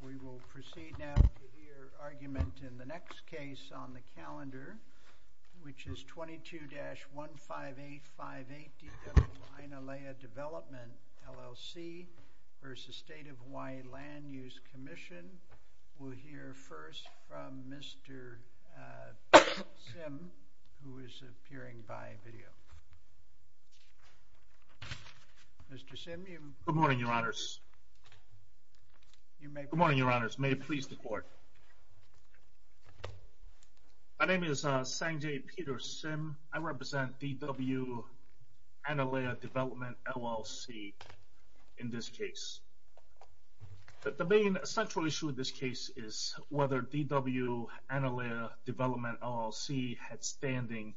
We will proceed now to hear argument in the next case on the calendar, which is 22-15858, D.W. Aina Le'a Development, LLC v. State of Hawaii Land Use Commission. We'll hear first from Mr. Sim, who is appearing by video. Mr. Sim, you may begin. Good morning, Your Honors. May it please the Court. My name is Sanjay Peter Sim. I represent D.W. Aina Le'a Development, LLC in this case. The main central issue in this case is whether D.W. Aina Le'a Development, LLC had standing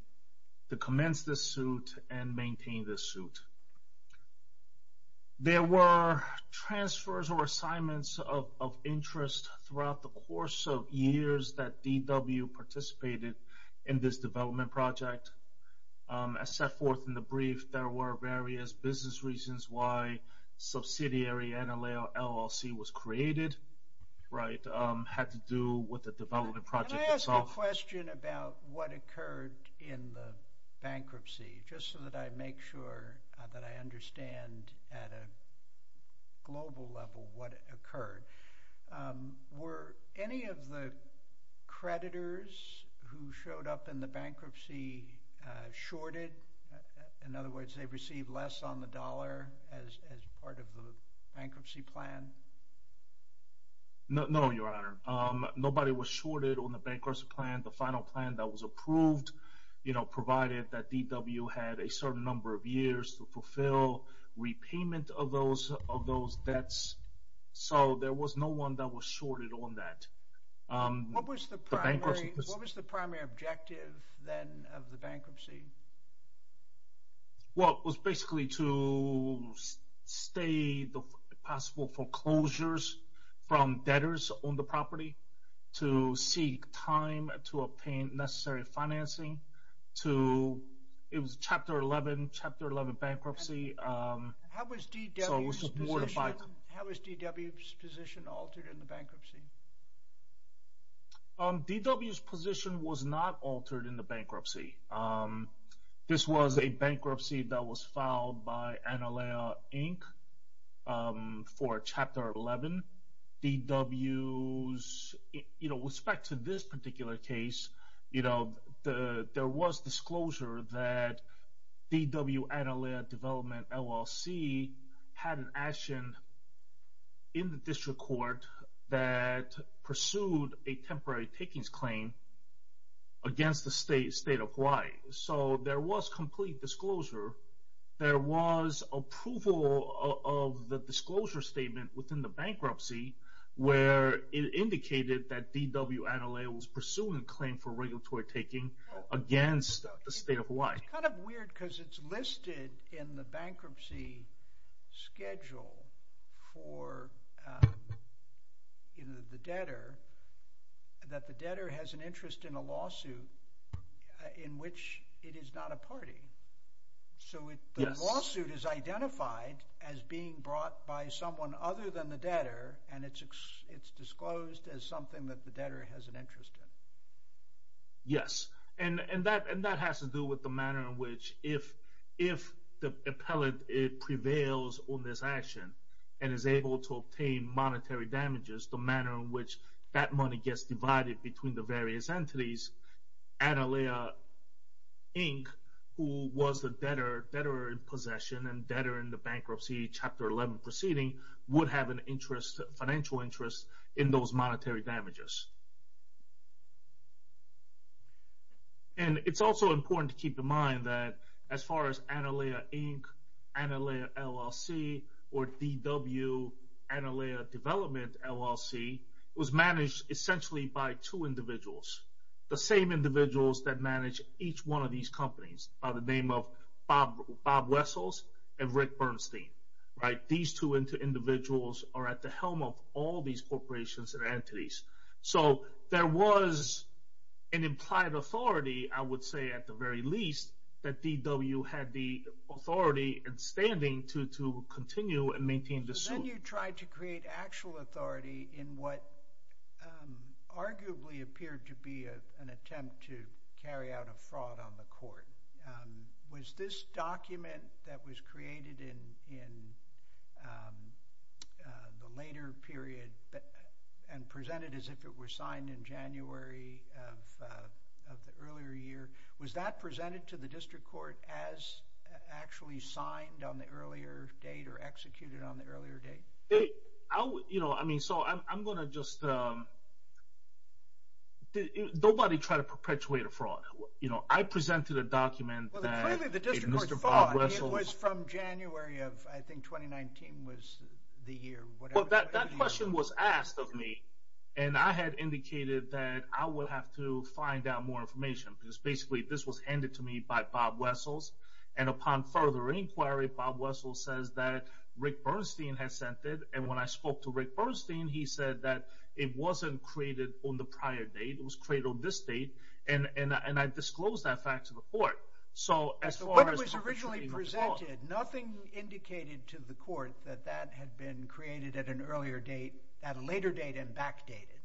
to commence this suit and maintain this suit. There were transfers or assignments of interest throughout the course of years that D.W. participated in this development project. As set forth in the brief, there were various business reasons why subsidiary Aina Le'a LLC was created, right, had to do with the development project itself. Let me ask a question about what occurred in the bankruptcy, just so that I make sure that I understand at a global level what occurred. Were any of the creditors who showed up in the bankruptcy shorted? In other words, they received less on the dollar as part of the bankruptcy plan? No, Your Honor. Nobody was shorted on the bankruptcy plan. The final plan that was approved provided that D.W. had a certain number of years to fulfill repayment of those debts. So there was no one that was shorted on that. What was the primary objective then of the bankruptcy? Well, it was basically to stay the possible foreclosures from debtors on the property, to seek time to obtain necessary financing. It was Chapter 11, Chapter 11 bankruptcy. How was D.W.'s position altered in the bankruptcy? D.W.'s position was not altered in the bankruptcy. This was a bankruptcy that was filed by Aina Le'a Inc. for Chapter 11. With respect to this particular case, there was disclosure that D.W. Aina Le'a Development LLC had an action in the district court that pursued a temporary takings claim against the State of Hawaii. So there was complete disclosure. There was approval of the disclosure statement within the bankruptcy where it indicated that D.W. Aina Le'a was pursuing a claim for regulatory taking against the State of Hawaii. It's kind of weird because it's listed in the bankruptcy schedule for the debtor, that the debtor has an interest in a lawsuit in which it is not a party. So the lawsuit is identified as being brought by someone other than the debtor, and it's disclosed as something that the debtor has an interest in. Yes, and that has to do with the manner in which if the appellate prevails on this action and is able to obtain monetary damages, the manner in which that money gets divided between the various entities, Aina Le'a Inc., who was the debtor in possession and debtor in the bankruptcy Chapter 11 proceeding, would have an interest, financial interest, in those monetary damages. And it's also important to keep in mind that as far as Aina Le'a Inc., Aina Le'a LLC, or D.W. Aina Le'a Development LLC, it was managed essentially by two individuals, the same individuals that manage each one of these companies by the name of Bob Wessels and Rick Bernstein. These two individuals are at the same time corporations and entities. So there was an implied authority, I would say at the very least, that D.W. had the authority and standing to continue and maintain the suit. Then you tried to create actual authority in what arguably appeared to be an attempt to carry out a fraud on the court. Was this document that was created in the later period and presented as if it were signed in January of the earlier year, was that presented to the district court as actually signed on the earlier date or executed on the earlier date? I mean, so I'm going to just... Nobody tried to perpetuate a fraud. I presented a document that Mr. Bob Wessels... I think 2019 was the year. Well, that question was asked of me and I had indicated that I would have to find out more information because basically this was handed to me by Bob Wessels and upon further inquiry, Bob Wessels says that Rick Bernstein had sent it and when I spoke to Rick Bernstein, he said that it wasn't created on the prior date, it was created on this date and I disclosed that fact to the court. So as far as... Nothing indicated to the court that that had been created at an earlier date, at a later date and backdated?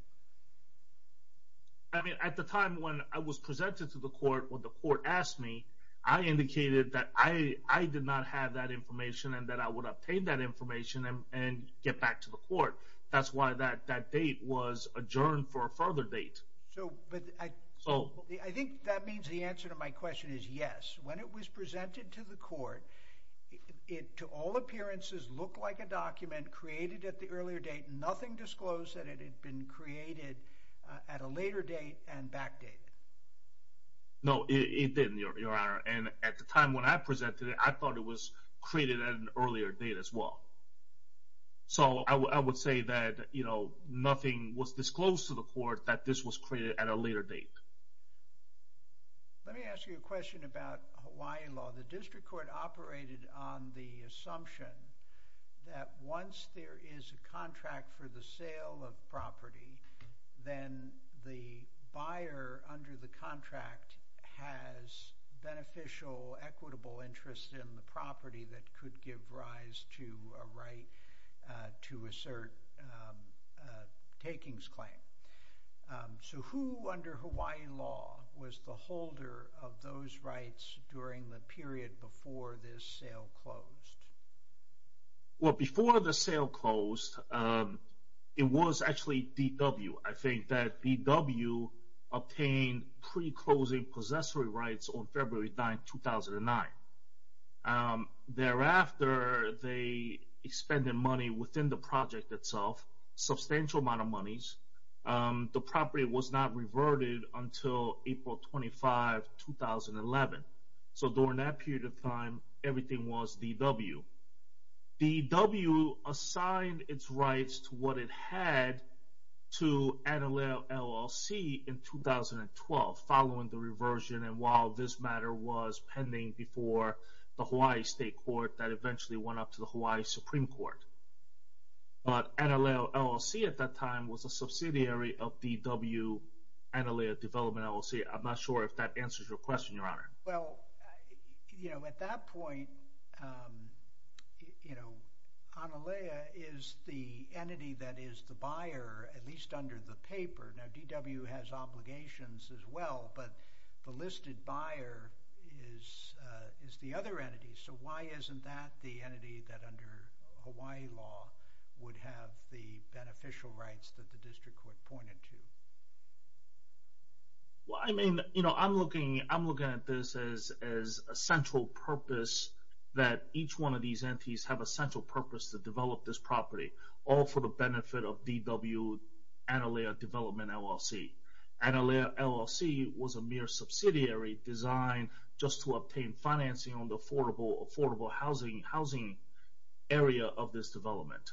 I mean, at the time when I was presented to the court, when the court asked me, I indicated that I did not have that information and that I would obtain that information and get back to the court. That's why that date was adjourned for a further date. So, but I think that means the answer to my question is yes. When it was presented to the court, it to all appearances looked like a document created at the earlier date, nothing disclosed that it had been created at a later date and backdated? No, it didn't, Your Honor. And at the time when I presented it, I thought it was created at an earlier date as well. So I would say that, you know, nothing was disclosed to the court that this was created at a later date. Let me ask you a question about Hawaii law. The district court operated on the assumption that once there is a contract for the sale of property, then the buyer under the contract has beneficial, equitable interest in the property that could give rise to a right to assert a takings claim. So who under Hawaii law was the holder of those rights during the period before this sale closed? Well, before the sale closed, it was actually DW. I think that DW obtained pre-closing possessory rights on February 9, 2009. Thereafter, they expended money within the project itself, substantial amount of monies. The property was not reverted until April 25, 2011. So during that period of time, everything was DW. DW assigned its rights to what it had to NLLC in 2012 following the reversion and while this matter was pending before the Hawaii State Court that eventually went up to the Hawaii Supreme Court. But NLLC at that time was a subsidiary of DW, Analea Development LLC. I'm not sure if that answers your question, Your Honor. Well, you know, at that point, you know, Analea is the entity that is the buyer, at least under the paper. Now, DW has obligations as well, but the listed buyer is the other entity. So why isn't that the entity that under Hawaii law would have the beneficial rights that the district court pointed to? Well, I mean, you know, I'm looking at this as a central purpose that each one of these entities have a central purpose to develop this property, all for the benefit of DW, Analea Development LLC. Analea LLC was a mere subsidiary designed just to obtain financing on the affordable housing area of this development.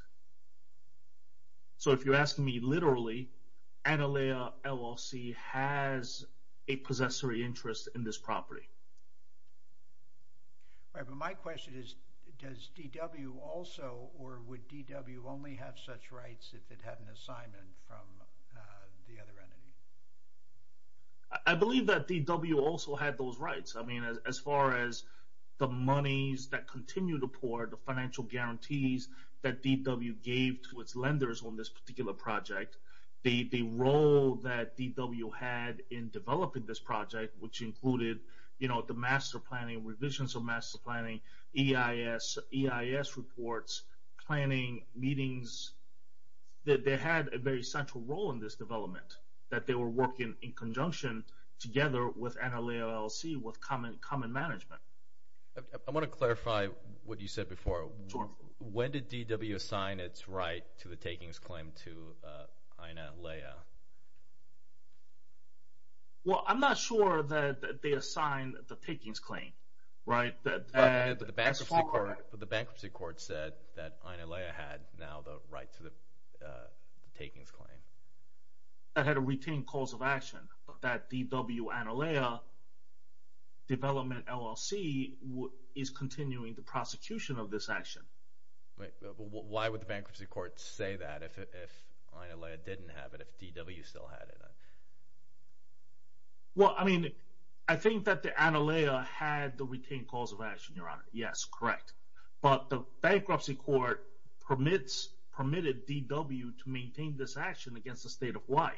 So if you're asking me literally, Analea LLC has a possessory interest in this property. Right, but my question is, does DW also or would DW only have such rights if it had an assignment from the other entity? I believe that DW also had those rights. I mean, as far as the monies that continue to pour, the financial guarantees that DW gave to its lenders on this particular project, the role that DW had in developing this project, which included, you know, the master planning, EIS reports, planning meetings, that they had a very central role in this development, that they were working in conjunction together with Analea LLC with common management. I want to clarify what you said before. When did DW assign its right to the takings claim to the bankruptcy court? The bankruptcy court said that Analea had now the right to the takings claim. That had a retained cause of action that DW, Analea Development LLC is continuing the prosecution of this action. Why would the bankruptcy court say that if Analea didn't have it, if DW still had it? Well, I mean, I think that the Analea had the retained cause of action, Your Honor. Yes, correct. But the bankruptcy court permitted DW to maintain this action against the state of Hawaii.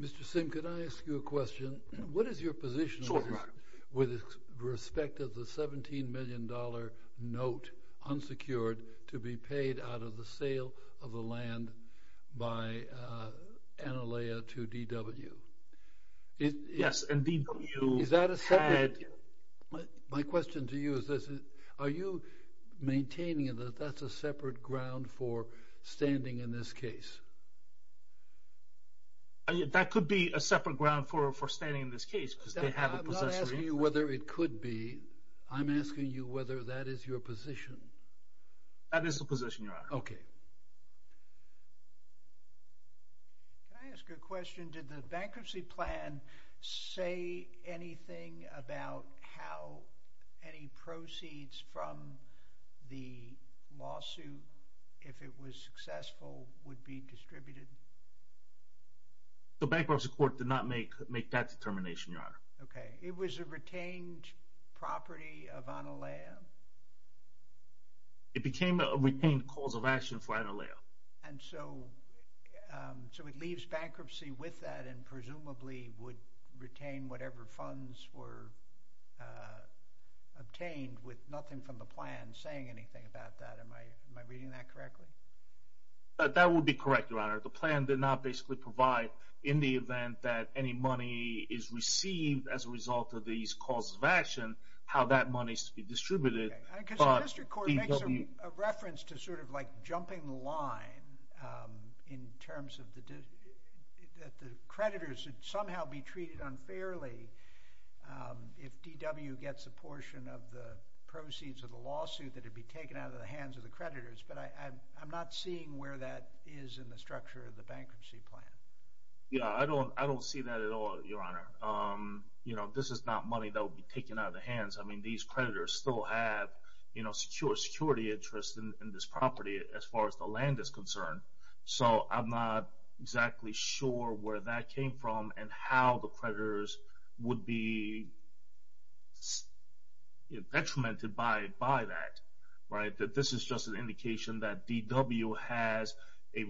Mr. Sim, could I ask you a question? What is your position with respect to the $17 million note unsecured to be paid out of the sale of the land by Analea to DW? Yes, and DW had... My question to you is this, are you maintaining that that's a separate ground for standing in this case? That could be a separate ground for standing in this case because they have a... I'm not asking you whether it could be. I'm asking you whether that is your position. That is the position, Your Honor. Okay. Can I ask a question? Did the bankruptcy plan say anything about how any proceeds from the lawsuit, if it was successful, would be distributed? The bankruptcy court did not make that determination, Your Honor. Okay. It was a retained property of Analea? It became a retained cause of action for Analea. And so it leaves bankruptcy with that and presumably would retain whatever funds were obtained with nothing from the plan saying anything about that. Am I reading that correctly? That would be correct, Your Honor. The plan did not basically provide in the event that any money is received as a result of these causes of action, how that money is to be distributed. Okay. Because the district court makes a reference to sort of like jumping the line in terms of that the creditors should somehow be treated unfairly if DW gets a portion of the proceeds of the lawsuit that would be taken out of the hands of the creditors. But I'm not seeing where that is in the structure of the bankruptcy plan. Yeah, I don't see that at all, Your Honor. You know, this is not money that would be taken out of the hands. I mean, these creditors still have, you know, secure security interests in this property as far as the land is concerned. So I'm not exactly sure where that came from and how the has a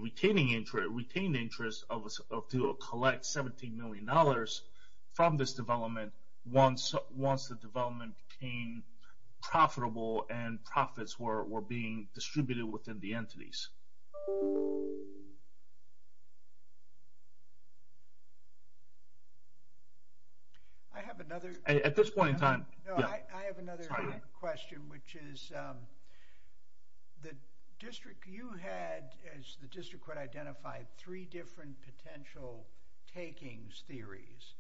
retained interest to collect $17 million from this development once the development became profitable and profits were being distributed within the entities. I have another... At this point in time... No, I have another question which is about the district. You had, as the district court identified, three different potential takings theories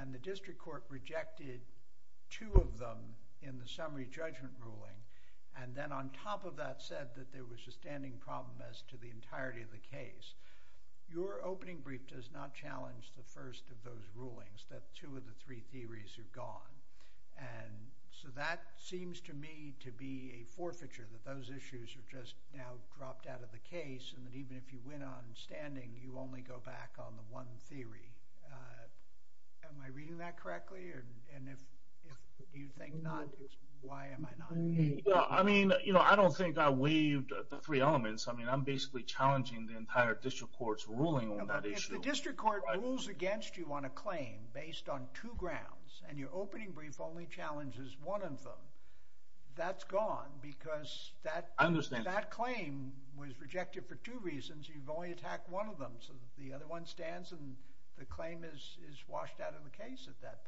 and the district court rejected two of them in the summary judgment ruling and then on top of that said that there was a standing problem as to the entirety of the case. Your opening brief does not challenge the first of those rulings, that two of the three theories are gone. And so that seems to me to be a forfeiture that those issues are just now dropped out of the case and that even if you win on standing, you only go back on the one theory. Am I reading that correctly? And if you think not, why am I not? I mean, you know, I don't think I waived the three elements. I mean, I'm basically challenging the entire district court's ruling on that issue. District court rules against you on a claim based on two grounds and your opening brief only challenges one of them. That's gone because that claim was rejected for two reasons. You've only attacked one of them so the other one stands and the claim is washed out of the case at that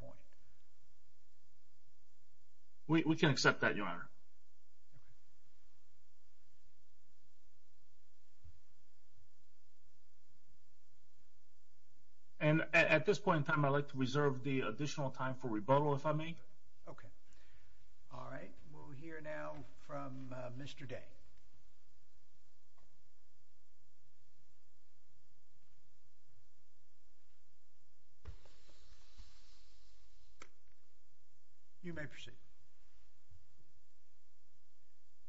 And at this point in time, I'd like to reserve the additional time for rebuttal if I may. Okay. All right. We'll hear now from Mr. Day. You may proceed.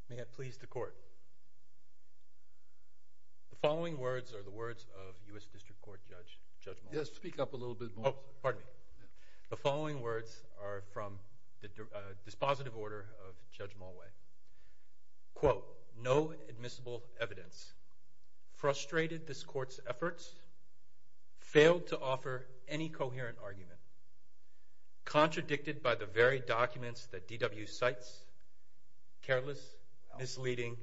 May I please the court? The following words are the words of U.S. District Court Judge Mulway. Yes, speak up a little bit more. Oh, pardon me. The following words are from the dispositive order of Judge Mulway. Quote, no admissible evidence. Frustrated this court's efforts, failed to offer any coherent argument, contradicted by the very documents that DW cites, careless, misleading.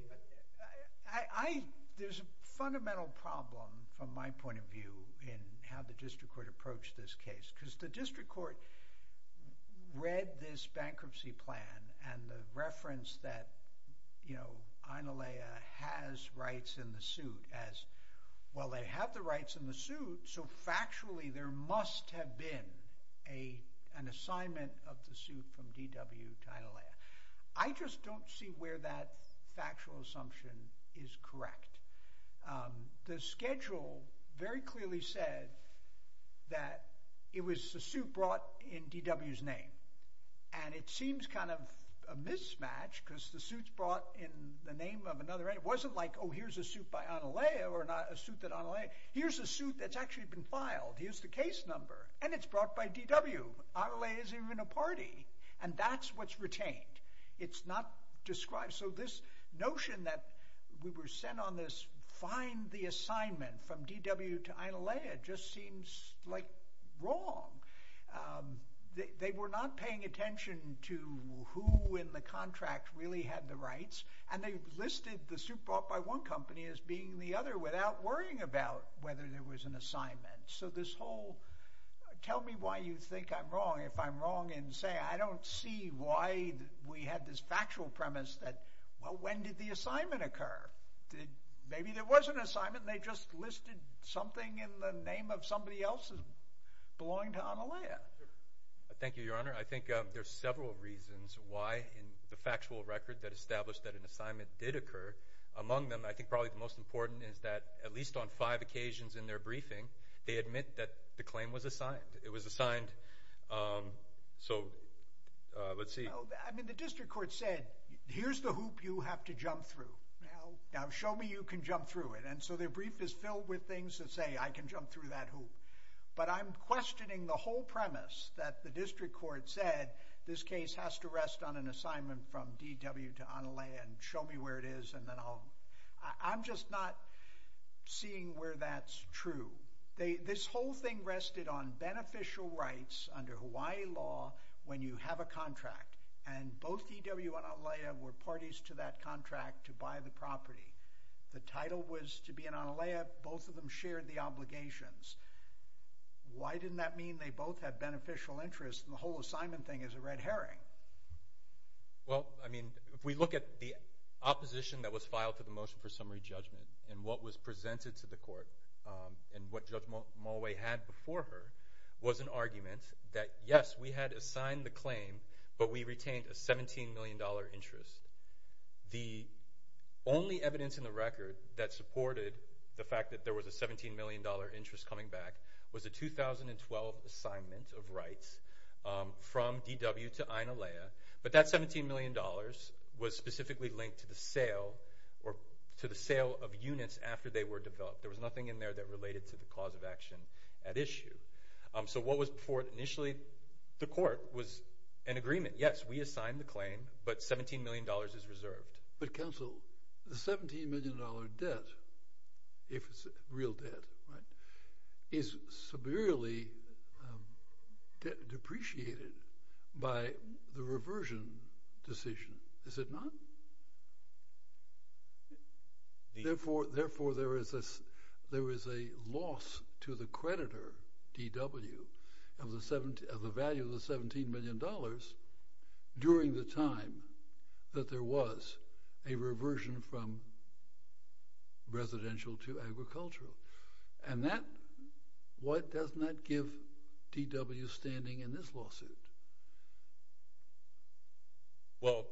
There's a fundamental problem from my point of view in how the district court approached this case because the district court read this bankruptcy plan and the reference that, you know, Inalaya has rights in the suit as, well, they have the rights in the suit, so factually there must have been an assignment of the suit from DW to Inalaya. I just don't see where that factual assumption is correct. The schedule very clearly said that it was the suit brought in DW's name, and it seems kind of a mismatch because the suit's brought in the name of another, it wasn't like, oh, here's a suit by Inalaya or not a suit that Inalaya, here's a suit that's actually been filed, here's the case number, and it's brought by DW. Inalaya isn't even a party, and that's what's retained. It's not described. So this notion that we were sent on this, find the assignment from DW to Inalaya, just seems like wrong. They were not paying attention to who in the contract really had the rights, and they listed the suit brought by one company as being the other without worrying about whether there was an assignment. So this whole, tell me why you think I'm wrong if I'm wrong in saying, I don't see why we had this factual premise that, well, when did the assignment occur? Maybe there was an assignment, and they just listed something in the name of somebody else's belonging to Inalaya. Thank you, Your Honor. I think there's several reasons why in the factual record that established that an assignment did occur. Among them, I think probably the most important is that, at least on five occasions in their briefing, they admit that the claim was assigned. It was assigned. So let's see. I mean, the district court said, here's the hoop you have to jump through. Now, show me you can jump through it. And so their brief is filled with things that say, I can jump through that hoop. But I'm questioning the whole premise that the district court said, this case has to rest on an assignment from DW to Inalaya, and show me where it is. I'm just not seeing where that's true. This whole thing rested on beneficial rights under Hawaii law when you have a contract. And both DW and Inalaya were parties to that contract to buy the property. The title was to be in Inalaya. Both of them shared the obligations. Why didn't that mean they both had beneficial interests, and the whole assignment thing is a red herring? Well, I mean, if we look at the opposition that was filed to the motion for summary judgment, and what was presented to the court, and what Judge Mulway had before her, was an argument that, yes, we had assigned the claim, but we retained a $17 million interest. The only evidence in the record that supported the fact that there was a $17 million interest coming back was a 2012 assignment of rights from DW to Inalaya. But that $17 million was specifically linked to the sale of units after they were developed. There was nothing in there that related to the cause of action at issue. So what was before initially the court was an agreement. Yes, we assigned the claim, but $17 million is reserved. But, counsel, the $17 million debt, if it's real debt, right, is severely depreciated by the reversion decision, is it not? Therefore, there is a loss to the creditor, DW, of the value of the $17 million during the time that there was a reversion from residential to agricultural. And that, what does that give DW standing in this lawsuit? Well,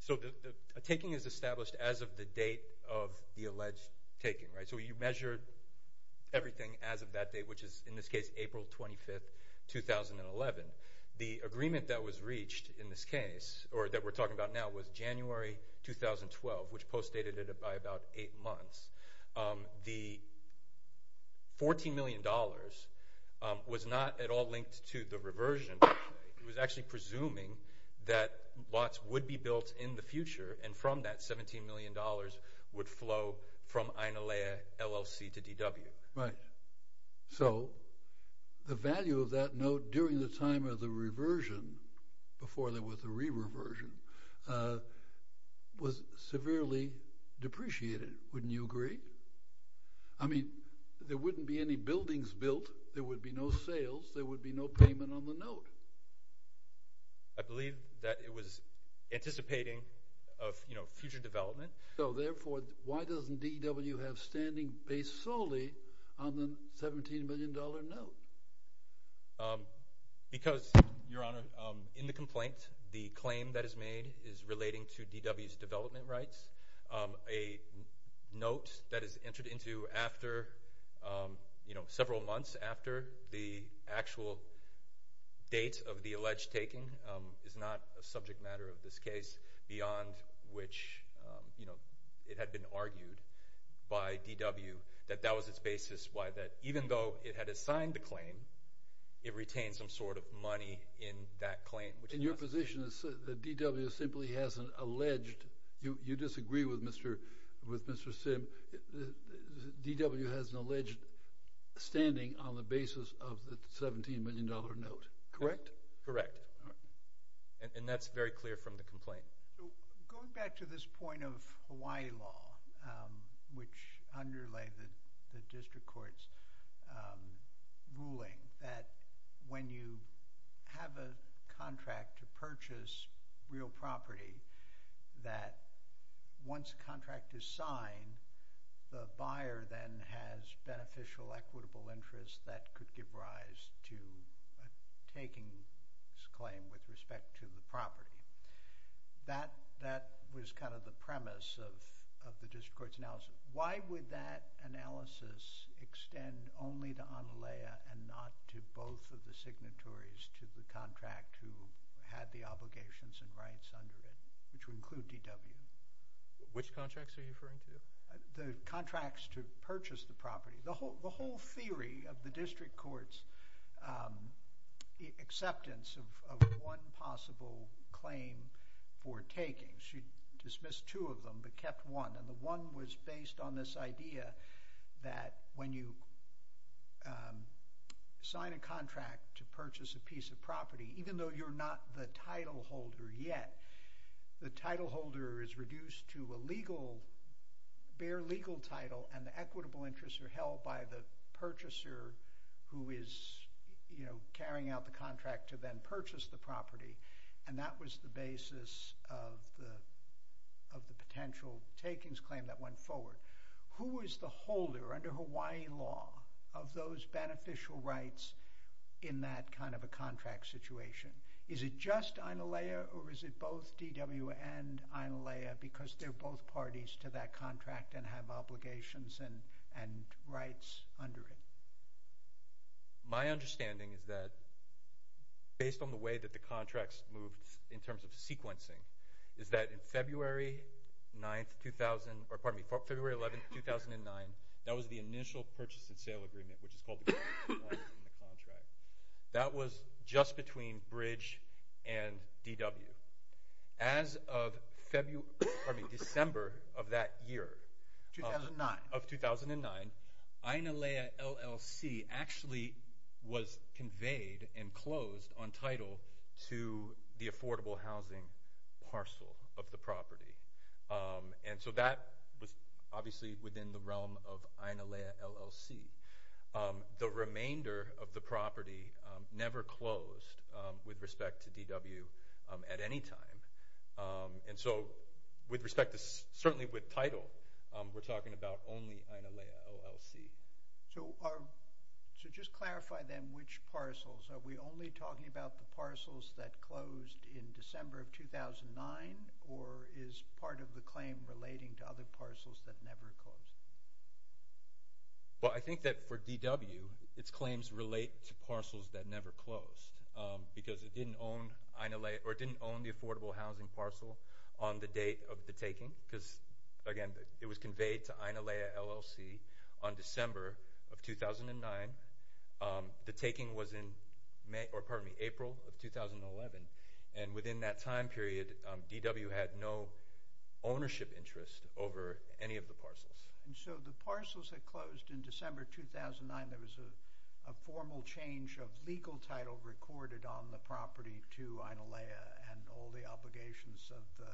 so a taking is established as of the date of the alleged taking, right? So you measure everything as of that date, which is, in this case, April 25th, 2011. The agreement that was reached in this case, or that we're talking about now, was January 2012, which postdated it by about eight months. The $14 million was not at all linked to the reversion. It was actually presuming that lots would be built in the future, and from that $17 million would flow from Inalaya LLC to DW. Right. So the value of that note during the time of the reversion, before there was a re-reversion, was severely depreciated, wouldn't you agree? I mean, there wouldn't be any buildings built, there would be no sales, there would be no payment on the note. I believe that it was on the $17 million note. Because, Your Honor, in the complaint, the claim that is made is relating to DW's development rights. A note that is entered into after, you know, several months after the actual date of the alleged taking is not a subject matter of this case, beyond which, you know, it had been argued by DW that that was its basis, why that, even though it had assigned the claim, it retained some sort of money in that claim. In your position, the DW simply has an alleged, you disagree with Mr. Sim, DW has an alleged standing on the basis of the $17 million note, correct? Correct. And that's very clear from the complaint. Going back to this point of Hawaii law, which underlay the district court's ruling, that when you have a contract to purchase real property, that once a contract is signed, the buyer then has beneficial equitable interest that could give rise to a takings claim with respect to the property. That was kind of the of the district court's analysis. Why would that analysis extend only to Onalaya and not to both of the signatories to the contract who had the obligations and rights under it, which would include DW? Which contracts are you referring to? The contracts to purchase the property. The whole theory of the district court's acceptance of one possible claim for takings. She dismissed two of them but kept one. The one was based on this idea that when you sign a contract to purchase a piece of property, even though you're not the title holder yet, the title holder is reduced to a bare legal title and the equitable interests are held by the purchaser who is carrying out the takings claim that went forward. Who is the holder under Hawaii law of those beneficial rights in that kind of a contract situation? Is it just Onalaya or is it both DW and Onalaya because they're both parties to that contract and have obligations and rights under it? My understanding is that based on the way that the contracts moved in terms of sequencing, is that in February 9th, 2000, or pardon me, February 11th, 2009, that was the initial purchase and sale agreement, which is called the contract. That was just between Bridge and DW. As of December of that year, of 2009, Onalaya LLC actually was conveyed and closed on title to the affordable housing parcel of the property. That was obviously within the realm of Onalaya LLC. The remainder of the property never closed with respect to DW at any time. With respect to, certainly with title, we're talking about only Onalaya LLC. So just clarify then which parcels. Are we only talking about the parcels that closed in December of 2009 or is part of the claim relating to other parcels that never closed? Well, I think that for DW, its claims relate to parcels that never closed because it didn't own Onalaya or didn't own the affordable housing parcel on the date of the of 2009. The taking was in April of 2011. Within that time period, DW had no ownership interest over any of the parcels. So the parcels that closed in December 2009, there was a formal change of legal title recorded on the property to Onalaya and all the obligations of the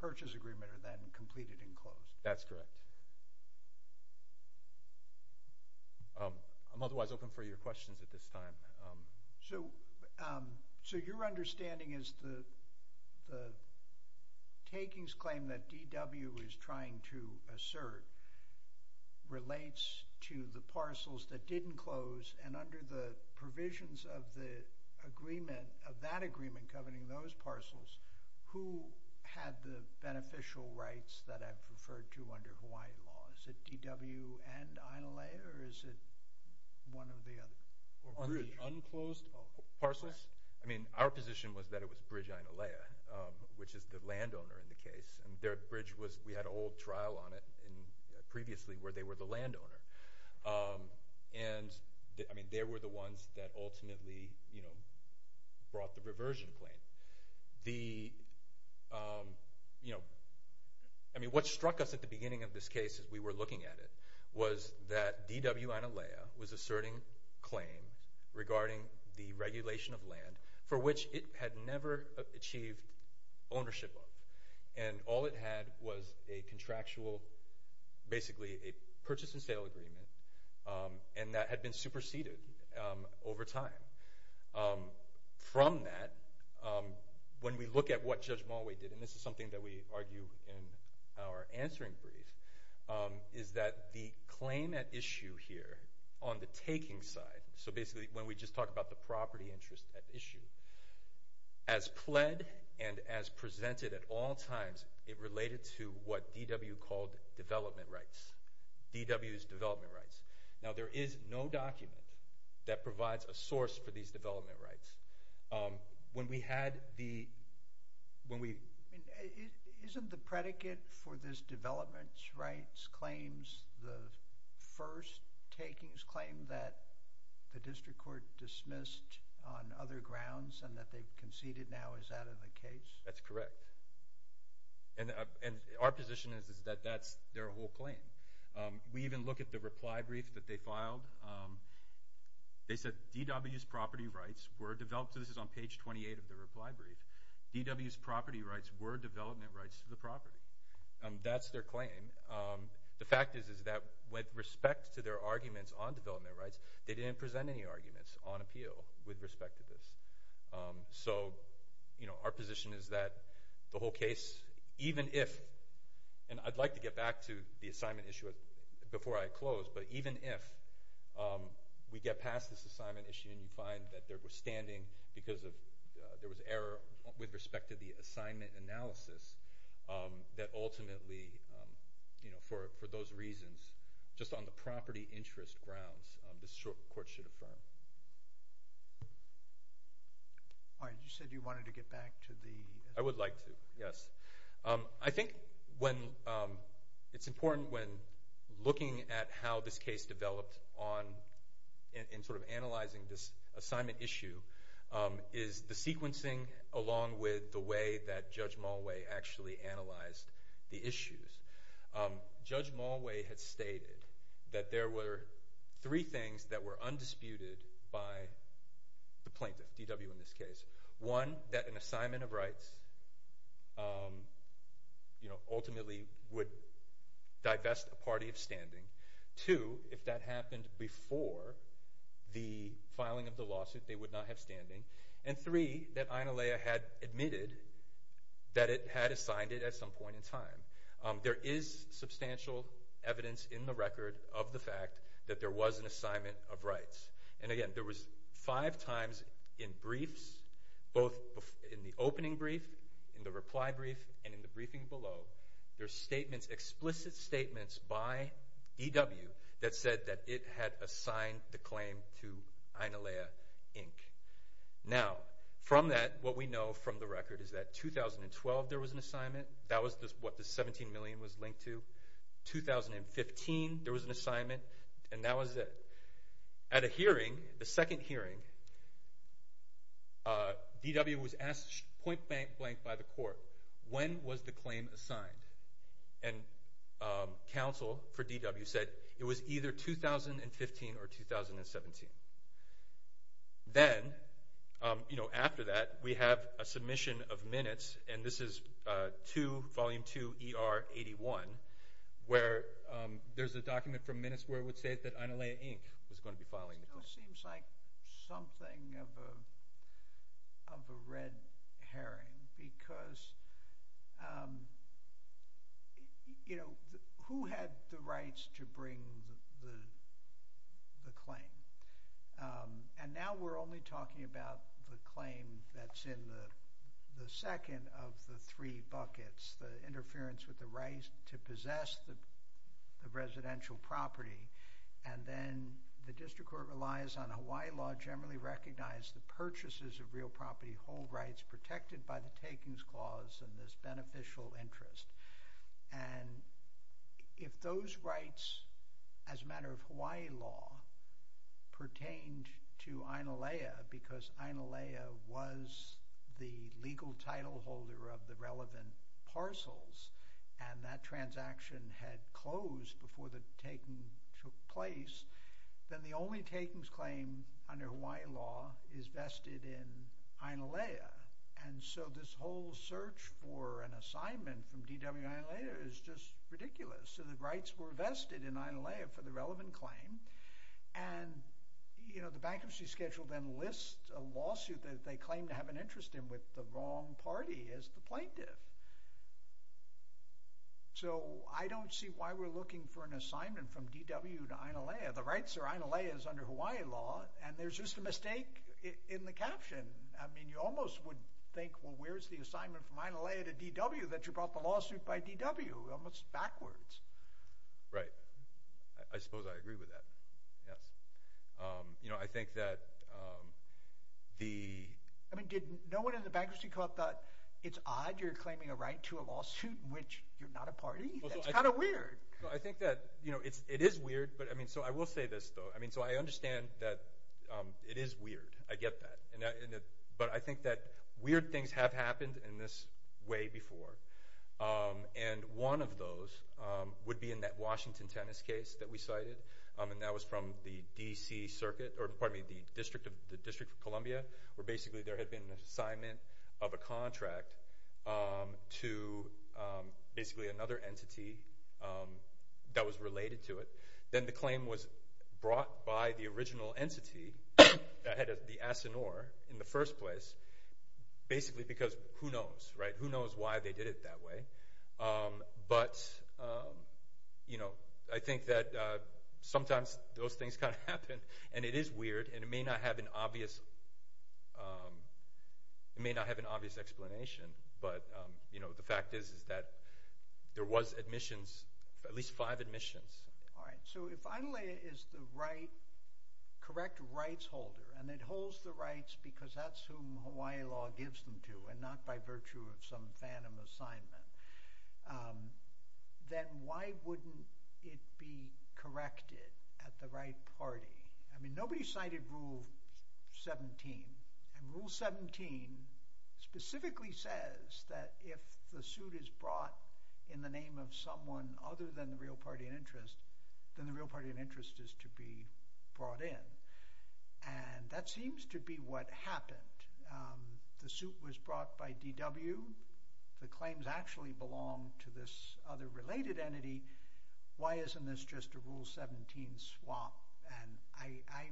purchase agreement are then completed and closed? That's correct. I'm otherwise open for your questions at this time. So your understanding is the takings claim that DW is trying to assert relates to the parcels that didn't close and under the provisions of the agreement, of that agreement governing those parcels, who had the beneficial rights that I've referred to under Hawaiian law? Is it DW and Onalaya or is it one of the other? Unclosed parcels? I mean, our position was that it was Bridge Onalaya, which is the landowner in the case and their bridge was, we had an old trial on it and previously where they were the landowner. And I mean, they were the ones that ultimately, you know, brought the reversion claim. The, you know, I mean, what struck us at the beginning of this case as we were looking at it was that DW Onalaya was asserting claim regarding the regulation of land for which it had never achieved ownership of. And all it had was a contractual, basically a purchase and sale agreement, and that had been superseded over time. From that, when we look at what Judge Mulway did, and this is something that we argue in our answering brief, is that the claim at issue here on the taking side, so basically when we just talk about the property interest at issue, as pled and as presented at all times, it related to what DW called development rights. DW's development rights. Now, there is no document that provides a source for these development rights. When we had the, when we... Isn't the predicate for this development rights claims the first takings claim that the district court dismissed on other grounds and that they've conceded now? Is that in the case? That's correct. And our position is that that's their whole claim. We even look at the reply brief that they filed. They said, DW's property rights were developed. This is on page 28 of the reply brief. DW's property rights were development rights to the property. That's their claim. The fact is that with respect to their arguments on development rights, they didn't present any arguments on So, you know, our position is that the whole case, even if, and I'd like to get back to the assignment issue before I close, but even if we get past this assignment issue and you find that there was standing because of, there was error with respect to the assignment analysis, that ultimately, you know, for those reasons, just on the property interest grounds, this court should affirm. All right. You said you wanted to get back to the... I would like to. Yes. I think when it's important when looking at how this case developed on and sort of analyzing this assignment issue is the sequencing along with the way that Judge stated that there were three things that were undisputed by the plaintiff, DW in this case. One, that an assignment of rights, you know, ultimately would divest a party of standing. Two, if that happened before the filing of the lawsuit, they would not have standing. And three, that INALEA had admitted that it had assigned it at some point in time. There is substantial evidence in the record of the fact that there was an assignment of rights. And again, there was five times in briefs, both in the opening brief, in the reply brief, and in the briefing below, there's statements, explicit statements by EW that said that it had assigned the claim to INALEA, Inc. Now, from that, what we know from the record is that 2012, there was an assignment. That was what the $17 million was linked to. 2015, there was an assignment, and that was it. At a hearing, the second hearing, DW was asked point blank by the court, when was the claim assigned? And DW said it was either 2015 or 2017. Then, you know, after that, we have a submission of minutes, and this is Volume 2, ER 81, where there's a document from minutes where it would say that INALEA, Inc. was going to be filing the case. It still seems like something of a red herring, because, you know, who had the rights to bring the claim? And now we're only talking about the claim that's in the second of the three buckets, the interference with the right to possess the residential property, and then the district court relies on Hawaii law generally recognized that purchases of real property hold rights protected by the takings clause and this beneficial interest. And if those rights, as a matter of Hawaii law, pertained to INALEA because INALEA was the legal title holder of the relevant parcels, and that transaction had closed before the taking took place, then the only takings claim under Hawaii law is vested in INALEA. And so this whole search for an assignment from DW and INALEA is just ridiculous. So the rights were vested in INALEA for the relevant claim, and, you know, the bankruptcy schedule then lists a lawsuit that they claim to have an interest in with the wrong party as the plaintiff. So I don't see why we're looking for an assignment from DW to INALEA. The rights are INALEA's under Hawaii law, and there's just a mistake in the caption. I mean, you almost would think, well, where's the assignment from INALEA to DW that you brought the lawsuit by DW? Almost backwards. Right. I suppose I agree with that. Yes. You know, I think that the... I mean, did no one in the bankruptcy court thought, it's odd you're claiming a right to a lawsuit in which you're not a party? That's kind of weird. I think that, you know, it is weird, but I mean, so I will say this, though. I mean, so I understand that it is weird. I get that. But I think that weird things have happened in this way before. And one of those would be in that Washington tennis case that we cited, and that was from the DC Circuit, or pardon me, the District of Columbia, where basically there had been an assignment of a contract to basically another entity that was related to it. Then the claim was brought by the original entity that had the asinore in the first place, basically because who knows, right? Who knows why they did it that way? But, you know, I think that sometimes those things kind of happen, and it is weird, and it may not have an obvious explanation. But, you know, the fact is that there was admissions, at least five admissions. All right. So if Adelaide is the correct rights holder, and it holds the rights because that's whom Hawaii law gives them to, and not by virtue of some phantom assignment, then why wouldn't it be corrected at the right party? I mean, nobody cited Rule 17, and Rule 17 specifically says that if the suit is brought in the name of someone other than the real party in interest, then the real party in interest is to be brought in. And that seems to be what belonged to this other related entity. Why isn't this just a Rule 17 swap? And I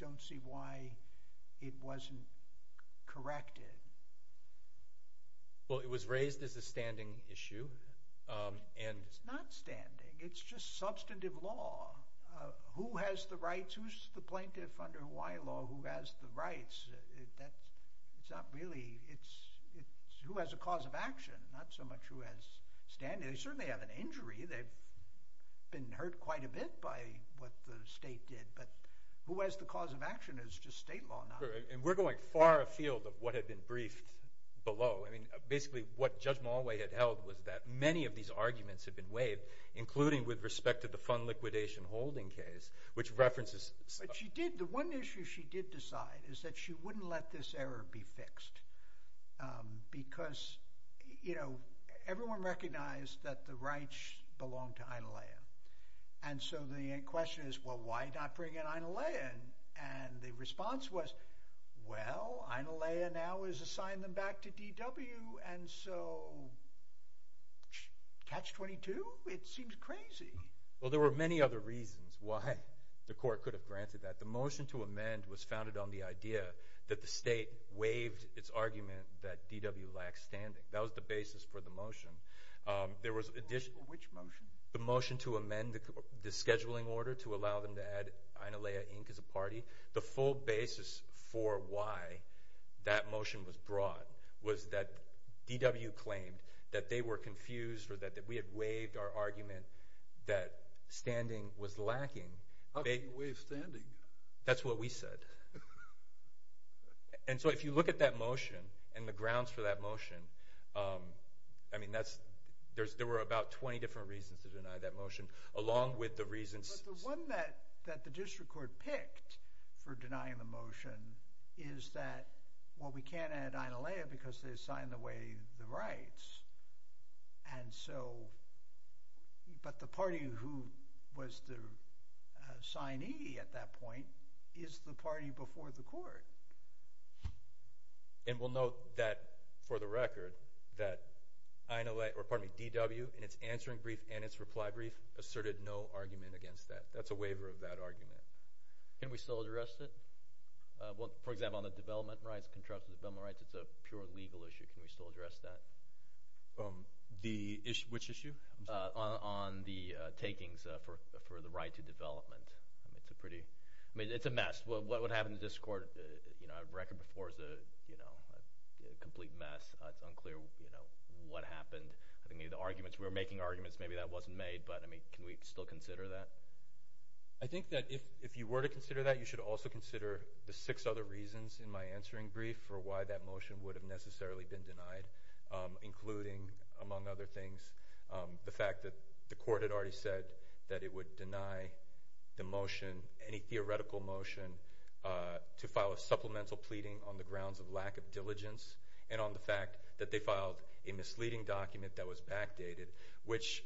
don't see why it wasn't corrected. Well, it was raised as a standing issue. And it's not standing. It's just substantive law. Who has the rights? Who's the plaintiff under Hawaii law who has the rights? It's not really, it's who has a cause of action, not so much who has standing. They certainly have an injury. They've been hurt quite a bit by what the state did. But who has the cause of action is just state law now. And we're going far afield of what had been briefed below. I mean, basically what Judge Mulway had held was that many of these arguments had been waived, including with respect to the fund liquidation holding case, which she did. The one issue she did decide is that she wouldn't let this error be fixed. Because, you know, everyone recognized that the rights belong to INALEA. And so the question is, well, why not bring in INALEA? And the response was, well, INALEA now is assigned them back to DW. And so catch-22? It seems crazy. Well, there were many other reasons why the court could have granted that. The motion to amend was founded on the idea that the state waived its argument that DW lacks standing. That was the basis for the motion. Which motion? The motion to amend the scheduling order to allow them to add INALEA, Inc. as a party. The full basis for why that motion was brought was that DW claimed that they were confused or that we had waived our argument that standing was lacking. How can you waive standing? That's what we said. And so if you look at that motion and the grounds for that motion, I mean, there were about 20 different reasons to deny that motion, along with the reasons... But the one that the district court picked for denying the motion is that, well, we can't add INALEA because they assigned away the rights. And so... But the party who was the signee at that point is the party before the court. And we'll note that, for the record, that INALEA, or pardon me, DW, in its answering brief and its argument against that, that's a waiver of that argument. Can we still address it? Well, for example, on the development rights, contractual development rights, it's a pure legal issue. Can we still address that? Which issue? On the takings for the right to development. I mean, it's a mess. What happened in the district court, for the record, is a complete mess. It's unclear what happened. I mean, the arguments, we were making arguments, maybe that wasn't made, but I mean, can we still consider that? I think that if you were to consider that, you should also consider the six other reasons in my answering brief for why that motion would have necessarily been denied, including, among other things, the fact that the court had already said that it would deny the motion, any theoretical motion, to file a supplemental pleading on the grounds of lack of diligence and on the fact that they filed a misleading document that was backdated, which,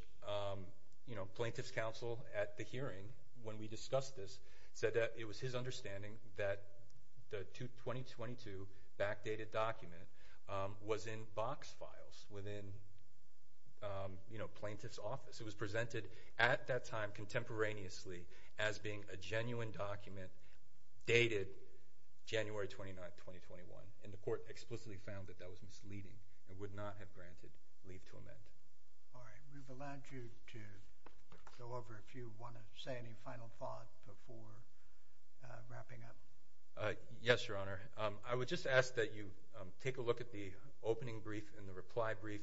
you know, plaintiff's counsel at the hearing, when we discussed this, said that it was his understanding that the 2022 backdated document was in box files within, you know, plaintiff's office. It was presented at that time contemporaneously as being a genuine document dated January 29, 2021, and the court explicitly found that that was misleading and would not have you to go over if you want to say any final thought before wrapping up. Yes, your honor. I would just ask that you take a look at the opening brief and the reply brief.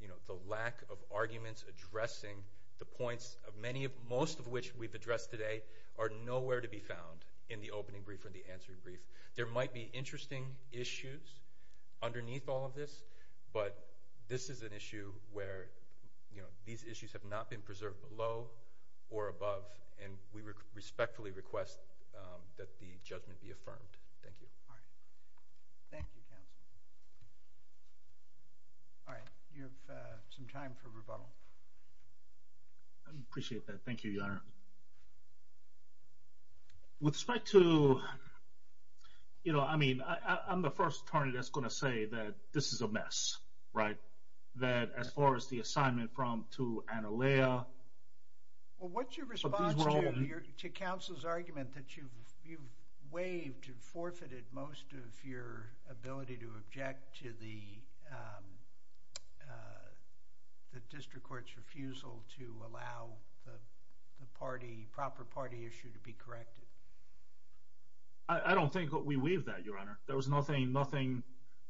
You know, the lack of arguments addressing the points of many of, most of which we've addressed today, are nowhere to be found in the opening brief or the answering brief. There might be interesting issues underneath all of this, but this is an issue where, you know, these issues have not been preserved below or above, and we respectfully request that the judgment be affirmed. Thank you. All right. Thank you, counsel. All right. You have some time for rebuttal. I appreciate that. Thank you, your honor. With respect to, you know, I mean, I'm the first attorney that's going to say that this is a mess, right? That as far as the assignment from, to Annalea. Well, what's your response to counsel's argument that you've waived and forfeited most of your ability to object to the district court's refusal to allow the party, proper party issue to be corrected? I don't think that we waived that, your honor. There was nothing, nothing,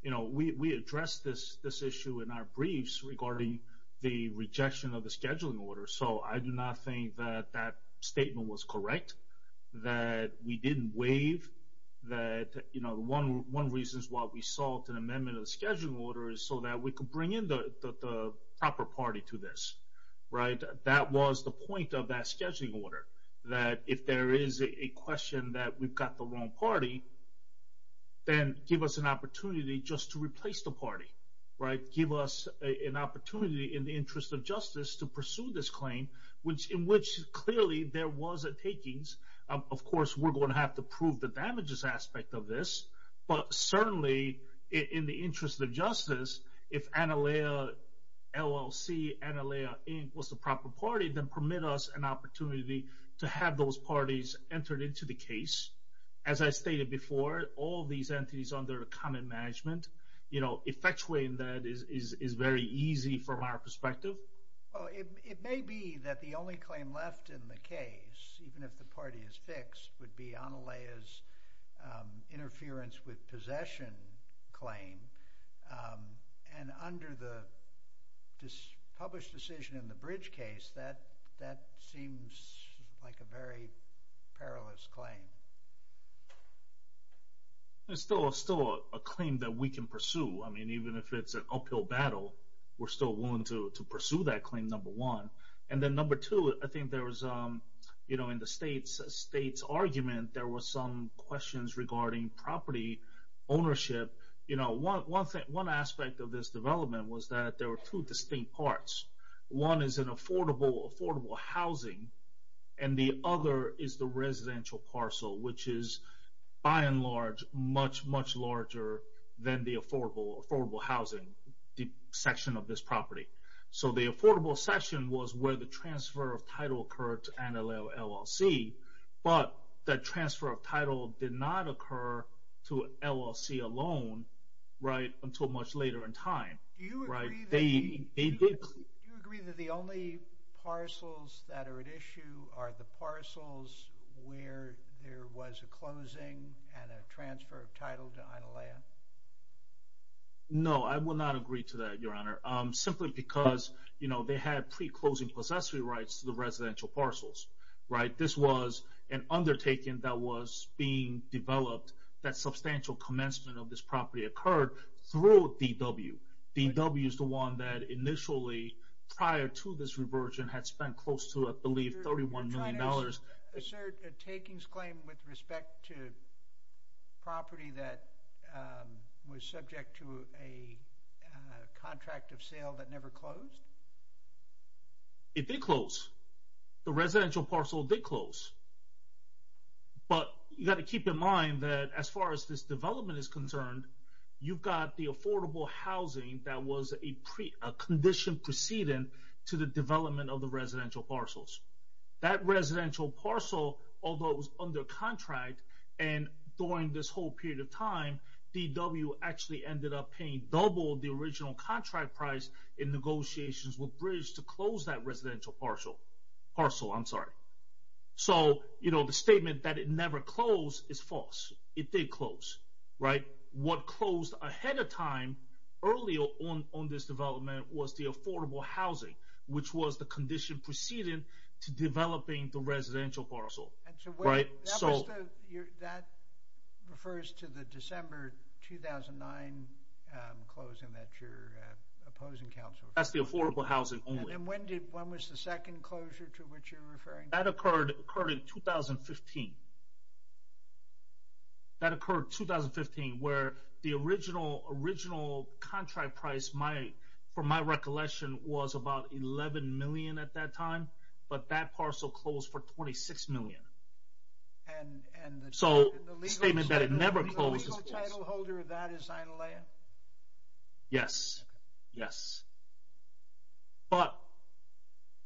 you know, we, we addressed this, this issue in our briefs regarding the rejection of the scheduling order. So I do not think that that statement was correct, that we didn't waive that, you know, the one, one reason is why we sought an amendment of the scheduling order is so that we could bring in the proper party to this, right? That was the point of that scheduling order, that if there is a question that we've got the wrong party, then give us an opportunity just to replace the party, right? Give us an opportunity in the interest of justice to pursue this claim, which in which clearly there was a takings. Of course, we're going to have to prove the damages aspect of this, but certainly in the interest of justice, if Annalea LLC, Annalea Inc. was the proper party, then permit us an opportunity to have those parties entered into the case. As I stated before, all of these entities under common management, you know, effectuating that is, is, is very easy from our perspective. Well, it, it may be that the only claim left in the case, even if the party is fixed, would be Annalea's interference with possession claim. And under the published decision in the bridge case, that, that seems like a very perilous claim. It's still, still a claim that we can pursue. I mean, even if it's an uphill battle, we're still willing to, to pursue that claim, number one. And then number two, I think there was, you know, in the state's, state's argument, there was some questions regarding property ownership. You know, one, one thing, one aspect of this development was that there were two distinct parts. One is an affordable, affordable housing. And the other is the residential parcel, which is by and large, much, much larger than the affordable, affordable housing, the section of this property. So the affordable section was where the transfer of title occurred to Annalea LLC, but that transfer of title did not occur to LLC alone, right? Until much later in time, right? They, they did. Do you agree that the only parcels that are at issue are the residential parcels? I do not agree to that, Your Honor. Simply because, you know, they had pre-closing possessory rights to the residential parcels, right? This was an undertaking that was being developed, that substantial commencement of this property occurred through DW. DW is the one that initially, prior to this reversion, had spent close to, I believe, $31 million. Is there a takings claim with respect to property that was subject to a contract of sale that never closed? It did close. The residential parcel did close. But you got to keep in mind that as far as this development is concerned, you've got the affordable housing that was a pre, a condition proceeding to the development of the residential parcels. That residential parcel, although it was under contract and during this whole period of time, DW actually ended up paying double the original contract price in negotiations with Bridge to close that residential parcel. Parcel, I'm sorry. So, you know, the statement that it never closed is false. It did close, right? What closed ahead of time, earlier on this development, was the affordable housing, which was the condition proceeding to developing the residential parcel, right? So that refers to the December 2009 closing that you're opposing council. That's the affordable housing only. And when did, when was the second closure to which you're referring? That occurred in 2015. That occurred 2015, where the original contract price, for my recollection, was about $11 million at that time. But that parcel closed for $26 million. So the statement that it never closed is false. The legal title holder of that is Zinalia? Yes. Yes. But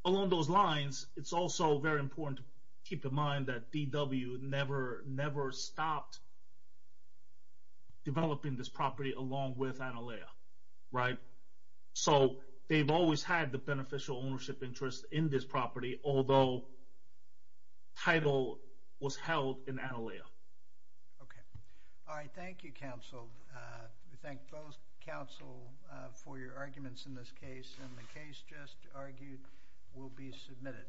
along those lines, it's also very important to keep in mind that DW never stopped developing this property along with Analia, right? So they've always had the beneficial ownership interest in this property, although title was held in Analia. Okay. All right. Thank you, council. We thank both council for your arguments in this case, and the case just argued will be submitted.